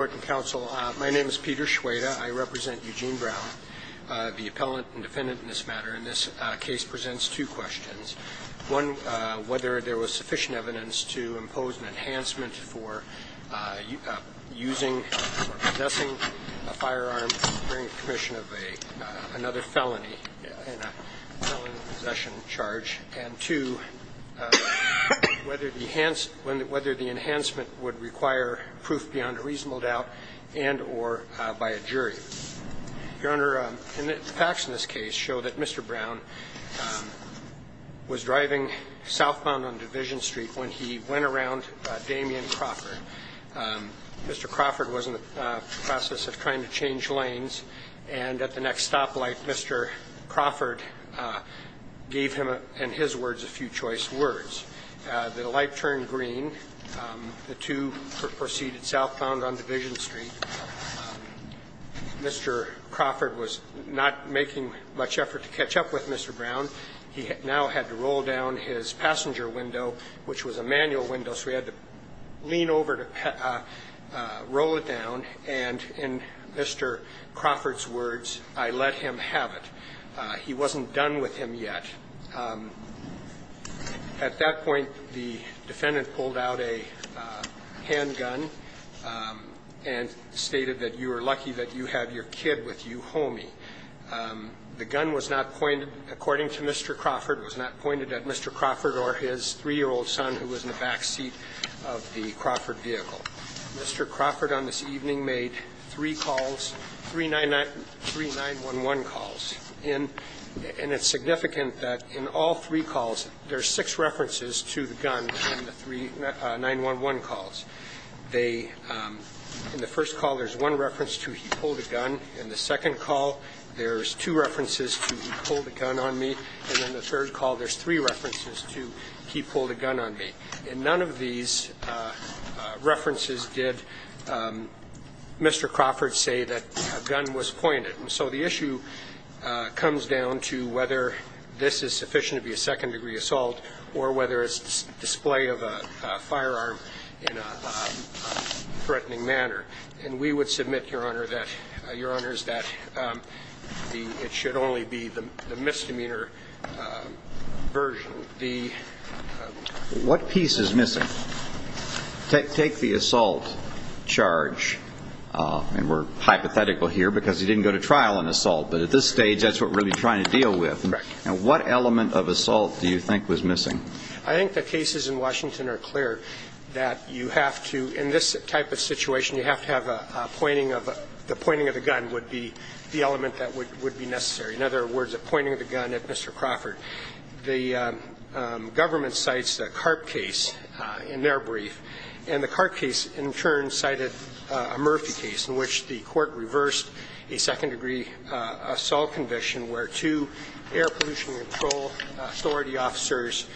My name is Peter Schweda. I represent Eugene Brown, the appellant and defendant in this matter. And this case presents two questions. One, whether there was sufficient evidence to impose an enhancement for using or possessing a firearm during the commission of another felony, in a felony possession charge. And, two, whether the enhancement would require proof beyond a reasonable doubt and or by a jury. Your Honor, the facts in this case show that Mr. Brown was driving southbound on Division Street when he went around Damien Crawford. Mr. Crawford was in the process of trying to change lanes, and at the next stoplight, Mr. Crawford gave him, in his words, a few choice words. The light turned green. The two proceeded southbound on Division Street. Mr. Crawford was not making much effort to catch up with Mr. Brown. He now had to roll down his passenger window, which was a manual window, so he had to lean over to roll it down, and in Mr. Crawford's words, I let him have it. He wasn't done with him yet. At that point, the defendant pulled out a handgun and stated that you were lucky that you had your kid with you, homie. The gun was not pointed, according to Mr. Crawford, was not pointed at Mr. Crawford or his three-year-old son, who was in the backseat of the Crawford vehicle. Mr. Crawford on this evening made three calls, three 9-1-1 calls, and it's significant that in all three calls, there's six references to the gun in the three 9-1-1 calls. They, in the first call, there's one reference to he pulled a gun. In the second call, there's two references to he pulled a gun on me, and in the third call, there's three references to he pulled a gun on me, and none of these references did Mr. Crawford say that a gun was pointed. And so the issue comes down to whether this is sufficient to be a second-degree assault or whether it's display of a firearm in a threatening manner. And we would submit, Your Honor, that, Your Honors, that it should only be the misdemeanor version. So the ---- What piece is missing? Take the assault charge, and we're hypothetical here because he didn't go to trial on assault, but at this stage, that's what we're going to be trying to deal with. And what element of assault do you think was missing? I think the cases in Washington are clear that you have to, in this type of situation, you have to have a pointing of a ---- the pointing of the gun would be the element that would be necessary. In other words, a pointing of the gun at Mr. Crawford. The government cites the Karp case in their brief, and the Karp case in turn cited a Murphy case in which the court reversed a second-degree assault conviction where two air pollution control authority officers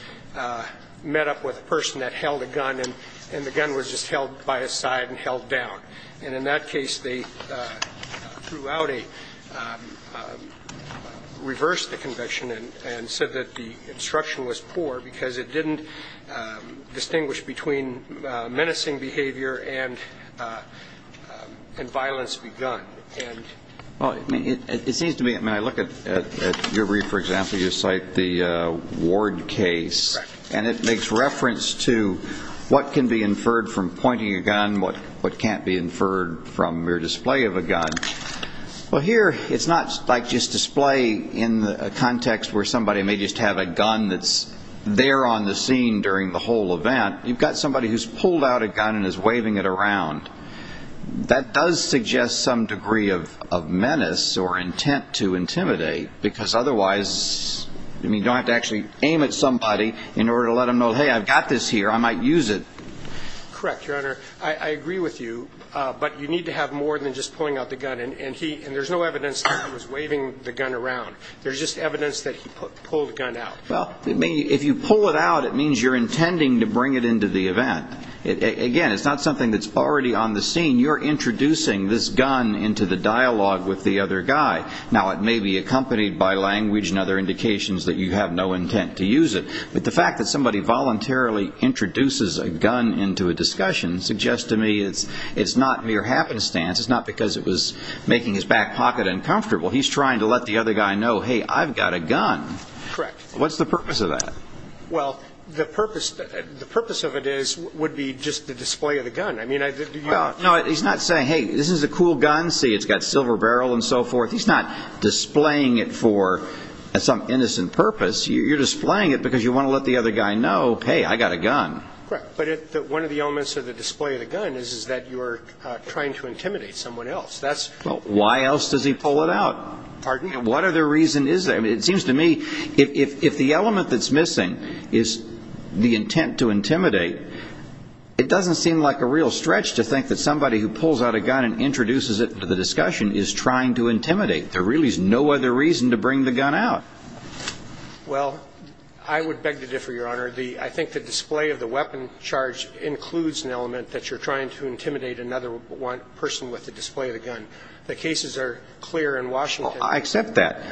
met up with a person that held a gun, and the gun was just held by his side and held down. And in that case, they reversed the conviction and said that the instruction was poor because it didn't distinguish between menacing behavior and violence with a gun. Well, it seems to me, when I look at your brief, for example, you cite the Ward case, and it makes reference to what can be inferred from pointing a gun, what can't be inferred from mere display of a gun. Well, here, it's not like just display in the context where somebody may just have a gun that's there on the scene during the whole event. You've got somebody who's pulled out a gun and is waving it around. That does suggest some degree of menace or intent to intimidate, because otherwise, you don't have to actually aim at somebody in order to let them know, hey, I've got this here, I might use it. Correct, Your Honor. I agree with you, but you need to have more than just a gun, and there's no evidence that he was waving the gun around. There's just evidence that he pulled the gun out. Well, if you pull it out, it means you're intending to bring it into the event. Again, it's not something that's already on the scene. You're introducing this gun into the dialogue with the other guy. Now, it may be accompanied by language and other indications that you have no intent to use it, but the fact that somebody voluntarily introduces a gun into a discussion suggests to me it's not mere happenstance. It's not because it was making his back pocket uncomfortable. He's trying to let the other guy know, hey, I've got a gun. Correct. What's the purpose of that? Well, the purpose of it would be just the display of the gun. No, he's not saying, hey, this is a cool gun. See, it's got a silver barrel and so forth. He's not displaying it for some innocent purpose. You're displaying it because you want to let the other guy know, hey, I've got a gun. Correct. But one of the elements of the display of the gun is that you're trying to intimidate someone else. Well, why else does he pull it out? Pardon? What other reason is there? It seems to me if the element that's missing is the intent to intimidate, it doesn't seem like a real stretch to think that somebody who pulls out a gun and introduces it to the discussion is trying to intimidate. There really is no other reason to bring the gun out. Well, I would beg to differ, Your Honor. I think the display of the weapon charge includes an element that you're trying to intimidate another person with the display of the gun. The cases are clear in Washington. Well, I accept that.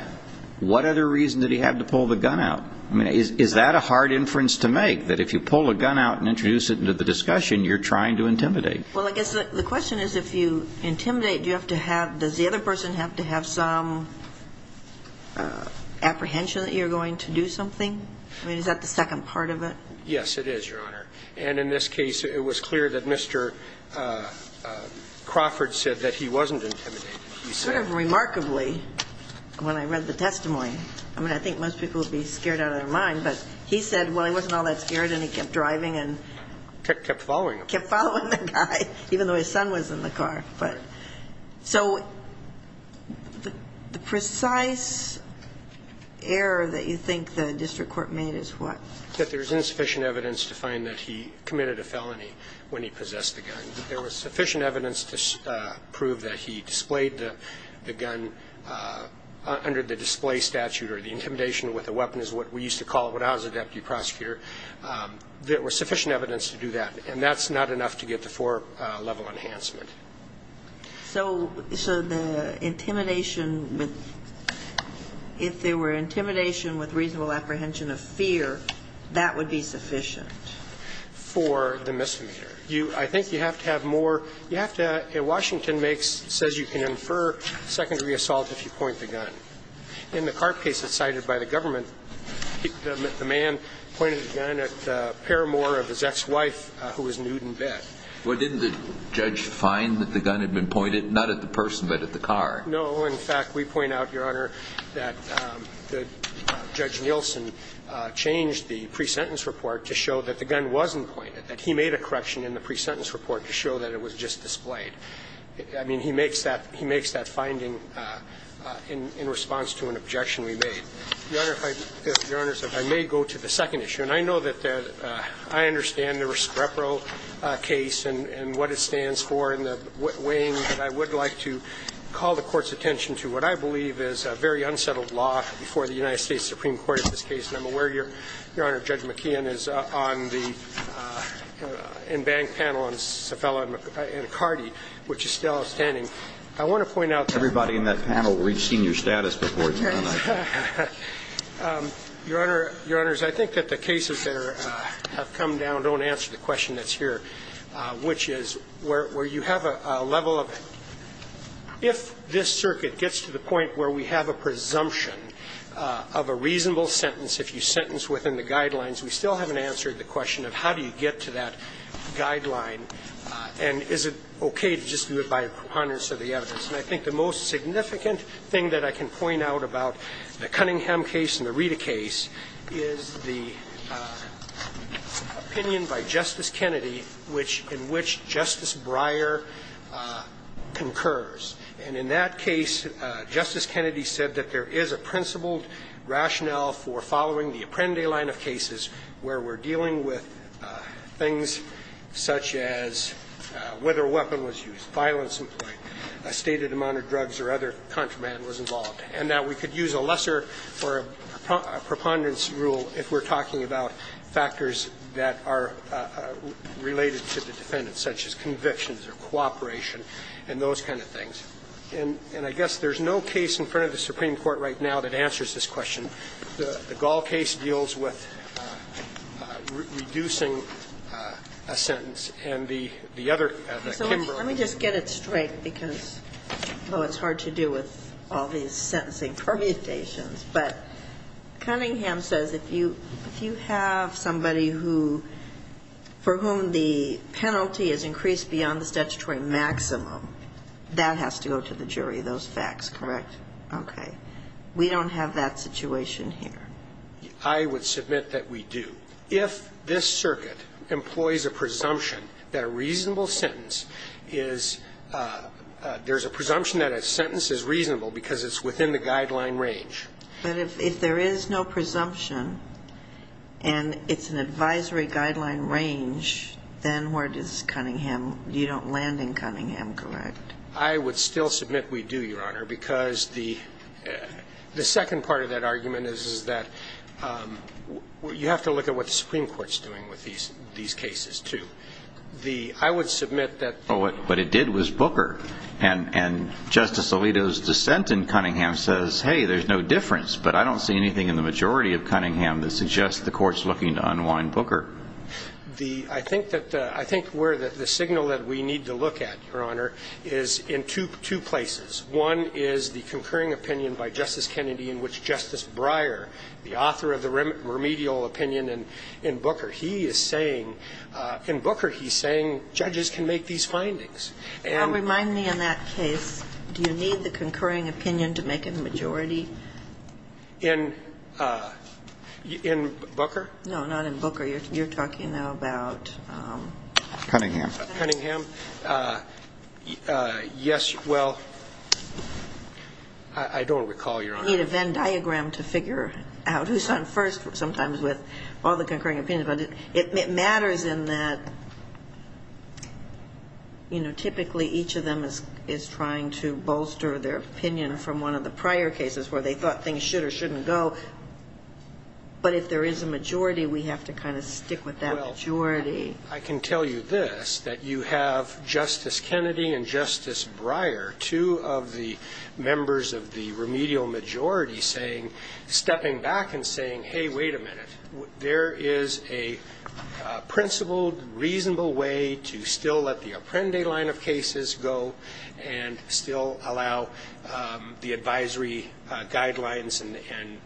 What other reason did he have to pull the gun out? I mean, is that a hard inference to make, that if you pull a gun out and introduce it into the discussion, you're trying to intimidate? Well, I guess the question is if you intimidate, do you have to have, does the other person have to have some apprehension that you're going to do something? I mean, is that the second part of it? Yes, it is, Your Honor. And in this case, it was clear that Mr. Crawford said that he wasn't intimidating. He said... Sort of remarkably, when I read the testimony, I mean, I think most people would be scared out of their mind, but he said, well, he wasn't all that scared and he kept driving and... Kept following him. Kept following the guy, even though his son was in the car. But so the precise error that you think the district court made is what? That there's insufficient evidence to find that he committed a felony when he possessed the gun. There was sufficient evidence to prove that he displayed the gun under the display statute or the intimidation with a weapon is what we used to call it when I was a deputy prosecutor. There was sufficient evidence to do that. And that's not enough to get the four-level enhancement. So the intimidation with... If there were intimidation with reasonable apprehension of fear, that would be sufficient? For the misdemeanor. I think you have to have more... You have to... Washington says you can infer secondary assault if you point the gun. In the car case that's cited by the government, the man pointed the gun at the paramour of his ex-wife who was nude in bed. Well, didn't the judge find that the gun had been pointed not at the person, but at the car? No. In fact, we point out, Your Honor, that Judge Nielsen changed the pre-sentence report to show that the gun wasn't pointed, that he made a correction in the pre-sentence report to show that it was just displayed. I mean, he makes that finding in response to an objection we made. Your Honor, if I may go to the second issue. And I know that I understand the Rescrepro case and what it stands for and the weighing. But I would like to call the Court's attention to what I believe is a very unsettled law before the United States Supreme Court in this case. And I'm aware, Your Honor, Judge McKeon is on the in-bank panel on Cefalo and McCarty, which is still outstanding. I want to point out... Everybody in that panel, we've seen your status before tonight. Your Honor, I think that the cases that have come down don't answer the question that's here, which is where you have a level of, if this circuit gets to the point where we have a presumption of a reasonable sentence, if you sentence within the guidelines, we still haven't answered the question of how do you get to that guideline and is it okay to just do it by preponderance of the evidence. And I think the most significant thing that I can point out about the Cunningham case and the Rita case is the opinion by Justice Kennedy in which Justice Breyer concurs. And in that case, Justice Kennedy said that there is a principled rationale for following the Apprendi line of cases where we're dealing with things such as whether a weapon was used, violence employed, a stated amount of drugs or other contraband was involved, and that we could use a lesser or a preponderance rule if we're talking about factors that are related to the defendant, such as convictions or cooperation and those kind of things. And I guess there's no case in front of the Supreme Court right now that answers this question. And the Gall case deals with reducing a sentence. And the other, the Kimbrough case. So let me just get it straight because, although it's hard to do with all these sentencing permutations, but Cunningham says if you have somebody who, for whom the penalty is increased beyond the statutory maximum, that has to go to the jury, those facts, correct? Okay. We don't have that situation here. I would submit that we do. If this circuit employs a presumption that a reasonable sentence is, there's a presumption that a sentence is reasonable because it's within the guideline range. But if there is no presumption and it's an advisory guideline range, then where does Cunningham, you don't land in Cunningham, correct? I would still submit we do, Your Honor, because the second part of that argument is that you have to look at what the Supreme Court is doing with these cases, too. I would submit that. But what it did was Booker. And Justice Alito's dissent in Cunningham says, hey, there's no difference. But I don't see anything in the majority of Cunningham that suggests the court is looking to unwind Booker. I think where the signal that we need to look at, Your Honor, is in two places. One is the concurring opinion by Justice Kennedy in which Justice Breyer, the author of the remedial opinion in Booker, he is saying, in Booker he's saying judges can make these findings. Remind me in that case, do you need the concurring opinion to make a majority? In Booker? No, not in Booker. You're talking now about? Cunningham. Yes, well, I don't recall, Your Honor. You need a Venn diagram to figure out who's on first sometimes with all the concurring opinions. But it matters in that typically each of them is trying to bolster their opinion from one of the prior cases where they thought things should or shouldn't go. But if there is a majority, we have to kind of stick with that majority. Well, I can tell you this, that you have Justice Kennedy and Justice Breyer, two of the members of the remedial majority, stepping back and saying, hey, wait a minute. There is a principled, reasonable way to still let the Apprendi line of cases go and still allow the advisory guidelines and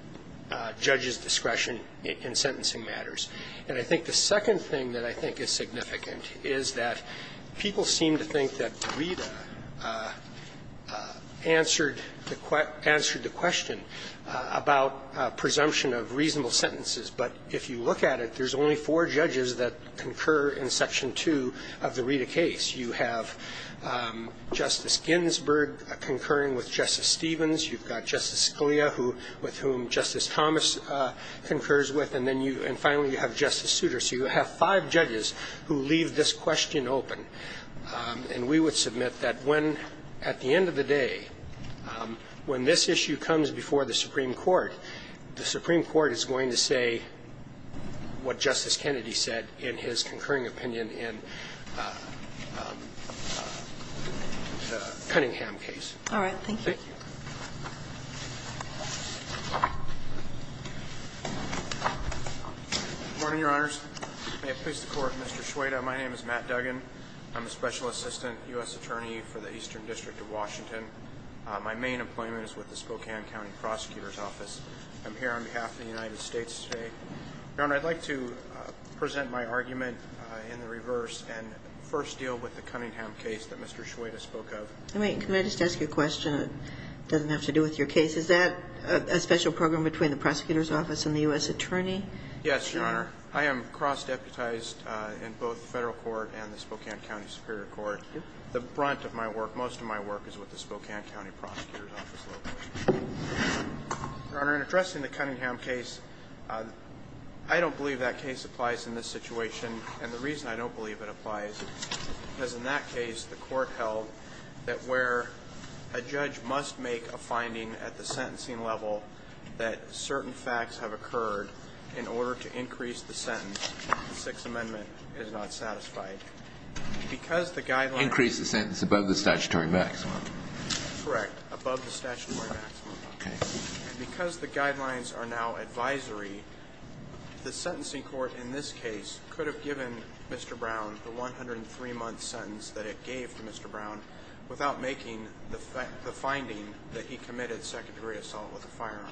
judges' discretion in sentencing matters. And I think the second thing that I think is significant is that people seem to think that Rita answered the question about presumption of reasonable sentences. But if you look at it, there's only four judges that concur in Section 2 of the Rita case. You have Justice Ginsburg concurring with Justice Stevens. You've got Justice Scalia with whom Justice Thomas concurs with. And finally, you have Justice Souter. So you have five judges who leave this question open. And we would submit that when, at the end of the day, when this issue comes before the Supreme Court, the Supreme Court is going to say what Justice Kennedy said in his concurring opinion in the Cunningham case. All right. Thank you. Thank you. Good morning, Your Honors. May it please the Court, Mr. Shweda. My name is Matt Duggan. I'm a Special Assistant U.S. Attorney for the Eastern District of Washington. My main employment is with the Spokane County Prosecutor's Office. I'm here on behalf of the United States today. Your Honor, I'd like to present my argument in the reverse and first deal with the Cunningham case that Mr. Shweda spoke of. Can I just ask you a question? It doesn't have to do with your case. Is that a special program between the Prosecutor's Office and the U.S. Attorney? Yes, Your Honor. I am cross-deputized in both the Federal Court and the Spokane County Superior Court. The brunt of my work, most of my work, is with the Spokane County Prosecutor's Office. Your Honor, in addressing the Cunningham case, I don't believe that case applies in this situation. And the reason I don't believe it applies is because in that case, the Court held that where a judge must make a finding at the sentencing level that certain facts have occurred in order to increase the sentence, the Sixth Amendment is not satisfied. Increase the sentence above the statutory maximum. Correct. Above the statutory maximum. Okay. And because the guidelines are now advisory, the sentencing court in this case could have given Mr. Brown the 103-month sentence that it gave to Mr. Brown without making the finding that he committed second-degree assault with a firearm.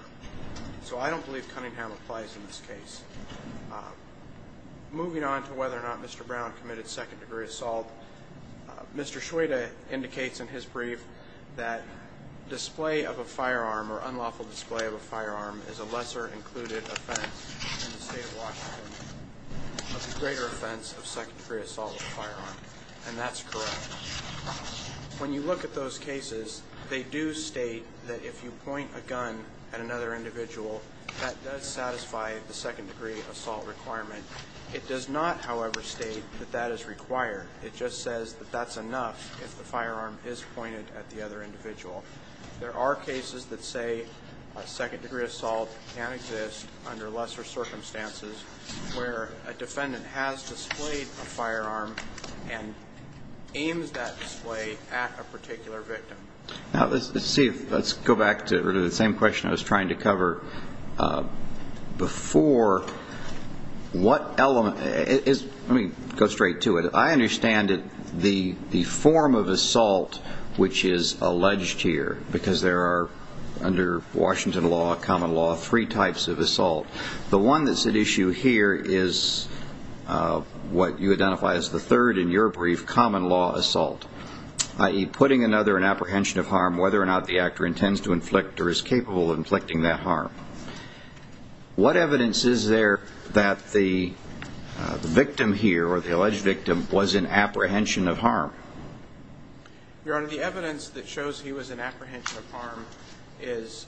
So I don't believe Cunningham applies in this case. Moving on to whether or not Mr. Brown committed second-degree assault, Mr. Schweda indicates in his brief that display of a firearm or unlawful display of a firearm is a lesser-included offense in the state of Washington of a greater offense of second-degree assault with a firearm. And that's correct. When you look at those cases, they do state that if you point a gun at another individual, that does satisfy the second-degree assault requirement. It does not, however, state that that is required. It just says that that's enough if the firearm is pointed at the other individual. There are cases that say a second-degree assault can exist under lesser circumstances where a defendant has displayed a firearm and aims that display at a particular victim. Let's go back to the same question I was trying to cover before. Let me go straight to it. I understand the form of assault which is alleged here because there are, under Washington law, common law, three types of assault. The one that's at issue here is what you identify as the third in your brief, common law assault, i.e., putting another in apprehension of harm whether or not the actor intends to inflict or is capable of inflicting that harm. What evidence is there that the victim here or the alleged victim was in apprehension of harm? Your Honor, the evidence that shows he was in apprehension of harm is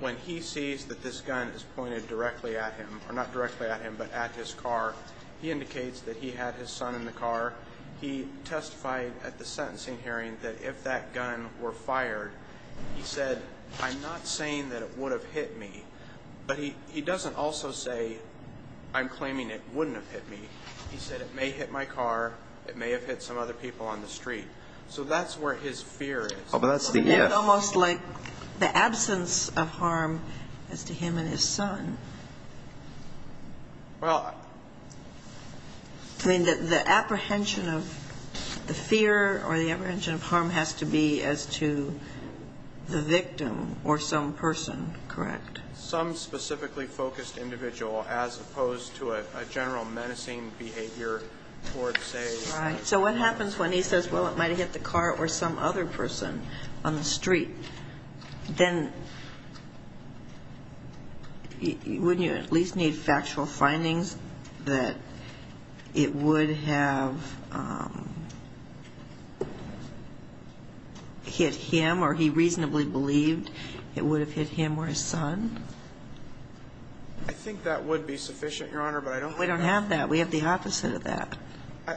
when he sees that this gun is pointed directly at him or not directly at him but at his car, he indicates that he had his son in the car. He testified at the sentencing hearing that if that gun were fired, he said, I'm not saying that it would have hit me, but he doesn't also say I'm claiming it wouldn't have hit me. He said it may have hit my car, it may have hit some other people on the street. So that's where his fear is. But that's the evidence. It's almost like the absence of harm as to him and his son. Well, I mean, the apprehension of the fear or the apprehension of harm has to be as to the victim or some person, correct? Some specifically focused individual as opposed to a general menacing behavior towards a... Right. So what happens when he says, well, it might have hit the car or some other person on the street? Then wouldn't you at least need factual findings that it would have hit him or he reasonably believed it would have hit him or his son? I think that would be sufficient, Your Honor, but I don't... We don't have that. We have the opposite of that.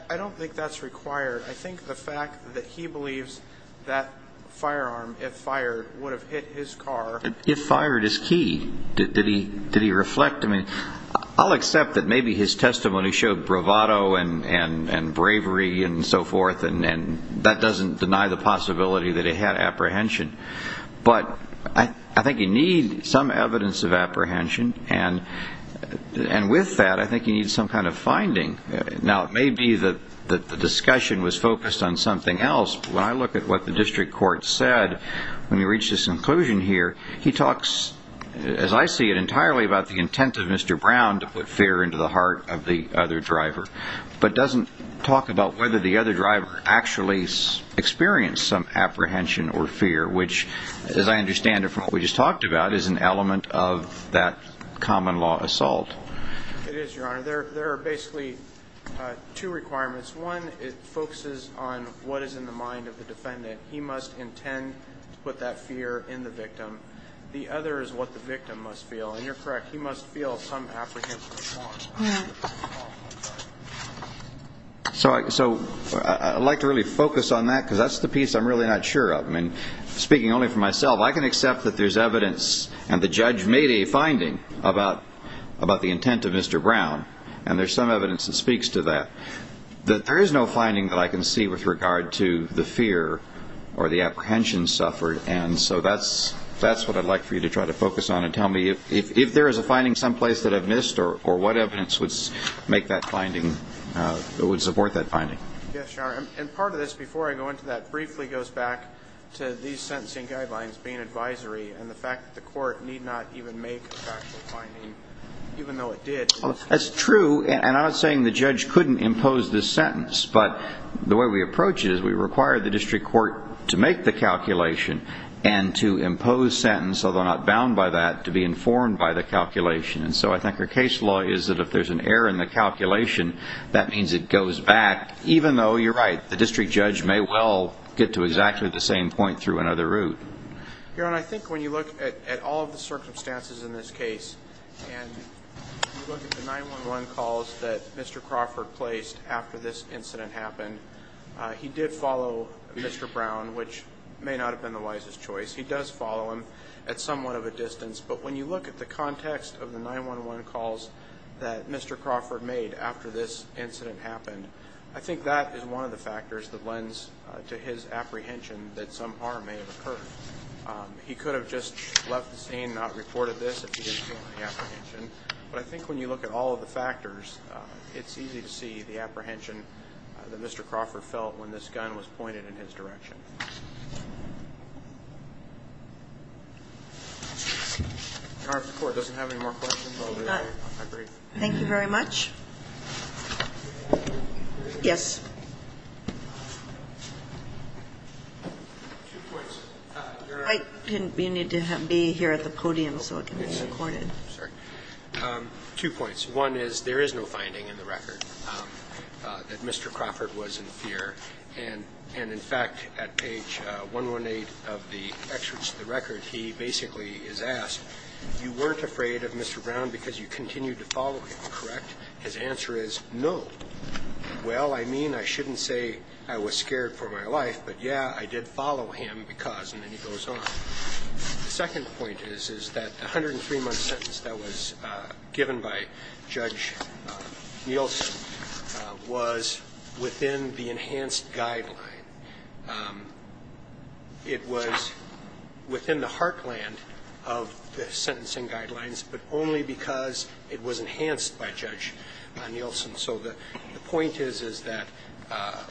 I don't think that's required. I think the fact that he believes that firearm, if fired, would have hit his car... If fired is key. Did he reflect? I mean, I'll accept that maybe his testimony showed bravado and bravery and so forth, and that doesn't deny the possibility that it had apprehension. But I think you need some evidence of apprehension, and with that, I think you need some kind of finding. Now, it may be that the discussion was focused on something else, but when I look at what the district court said when we reached this conclusion here, he talks, as I see it entirely, about the intent of Mr. Brown to put fear into the heart of the other driver, but doesn't talk about whether the other driver actually experienced some apprehension or fear, which, as I understand it from what we just talked about, is an element of that common law assault. It is, Your Honor. There are basically two requirements. One focuses on what is in the mind of the defendant. He must intend to put that fear in the victim. The other is what the victim must feel, and you're correct. He must feel some apprehension or thought. So I'd like to really focus on that because that's the piece I'm really not sure of. I mean, speaking only for myself, I can accept that there's evidence and the judge made a finding about the intent of Mr. Brown, and there's some evidence that speaks to that. There is no finding that I can see with regard to the fear or the apprehension suffered, and so that's what I'd like for you to try to focus on and tell me if there is a finding someplace that I've missed or what evidence would support that finding. Yes, Your Honor, and part of this, before I go into that, briefly goes back to these sentencing guidelines being advisory and the fact that the court need not even make a factual finding, even though it did. That's true, and I'm not saying the judge couldn't impose this sentence, but the way we approach it is we require the district court to make the calculation and to impose sentence, although not bound by that, to be informed by the calculation. And so I think our case law is that if there's an error in the calculation, that means it goes back, even though, you're right, the district judge may well get to exactly the same point through another route. Your Honor, I think when you look at all of the circumstances in this case and you look at the 911 calls that Mr. Crawford placed after this incident happened, he did follow Mr. Brown, which may not have been the wisest choice. He does follow him at somewhat of a distance, but when you look at the context of the 911 calls that Mr. Crawford made after this incident happened, I think that is one of the factors that lends to his apprehension that some harm may have occurred. He could have just left the scene and not reported this if he didn't feel any apprehension, but I think when you look at all of the factors, it's easy to see the apprehension that Mr. Crawford felt when this gun was pointed in his direction. Your Honor, if the court doesn't have any more questions, I'll do it. Thank you very much. Yes. Two points. Your Honor. You need to be here at the podium so it can be recorded. Sorry. Two points. One is there is no finding in the record that Mr. Crawford was in fear, and in fact, at page 118 of the excerpts of the record, he basically is asked, you weren't afraid of Mr. Brown because you continued to follow him, correct? His answer is no. Well, I mean, I shouldn't say I was scared for my life, but, yeah, I did follow him because, and then he goes on. The second point is that the 103-month sentence that was given by Judge Nielsen was within the enhanced guideline. It was within the heartland of the sentencing guidelines, but only because it was enhanced by Judge Nielsen. So the point is that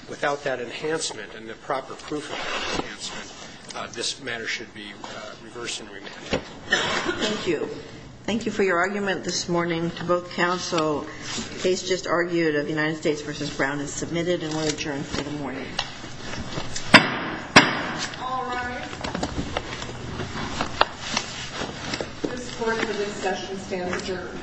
without that enhancement and the proper proof of that enhancement, this matter should be reversed and remanded. Thank you. Thank you for your argument this morning to both counsel. The case just argued of the United States v. Brown is submitted and will adjourn for the morning. All rise. This court for this session stands adjourned. Thank you.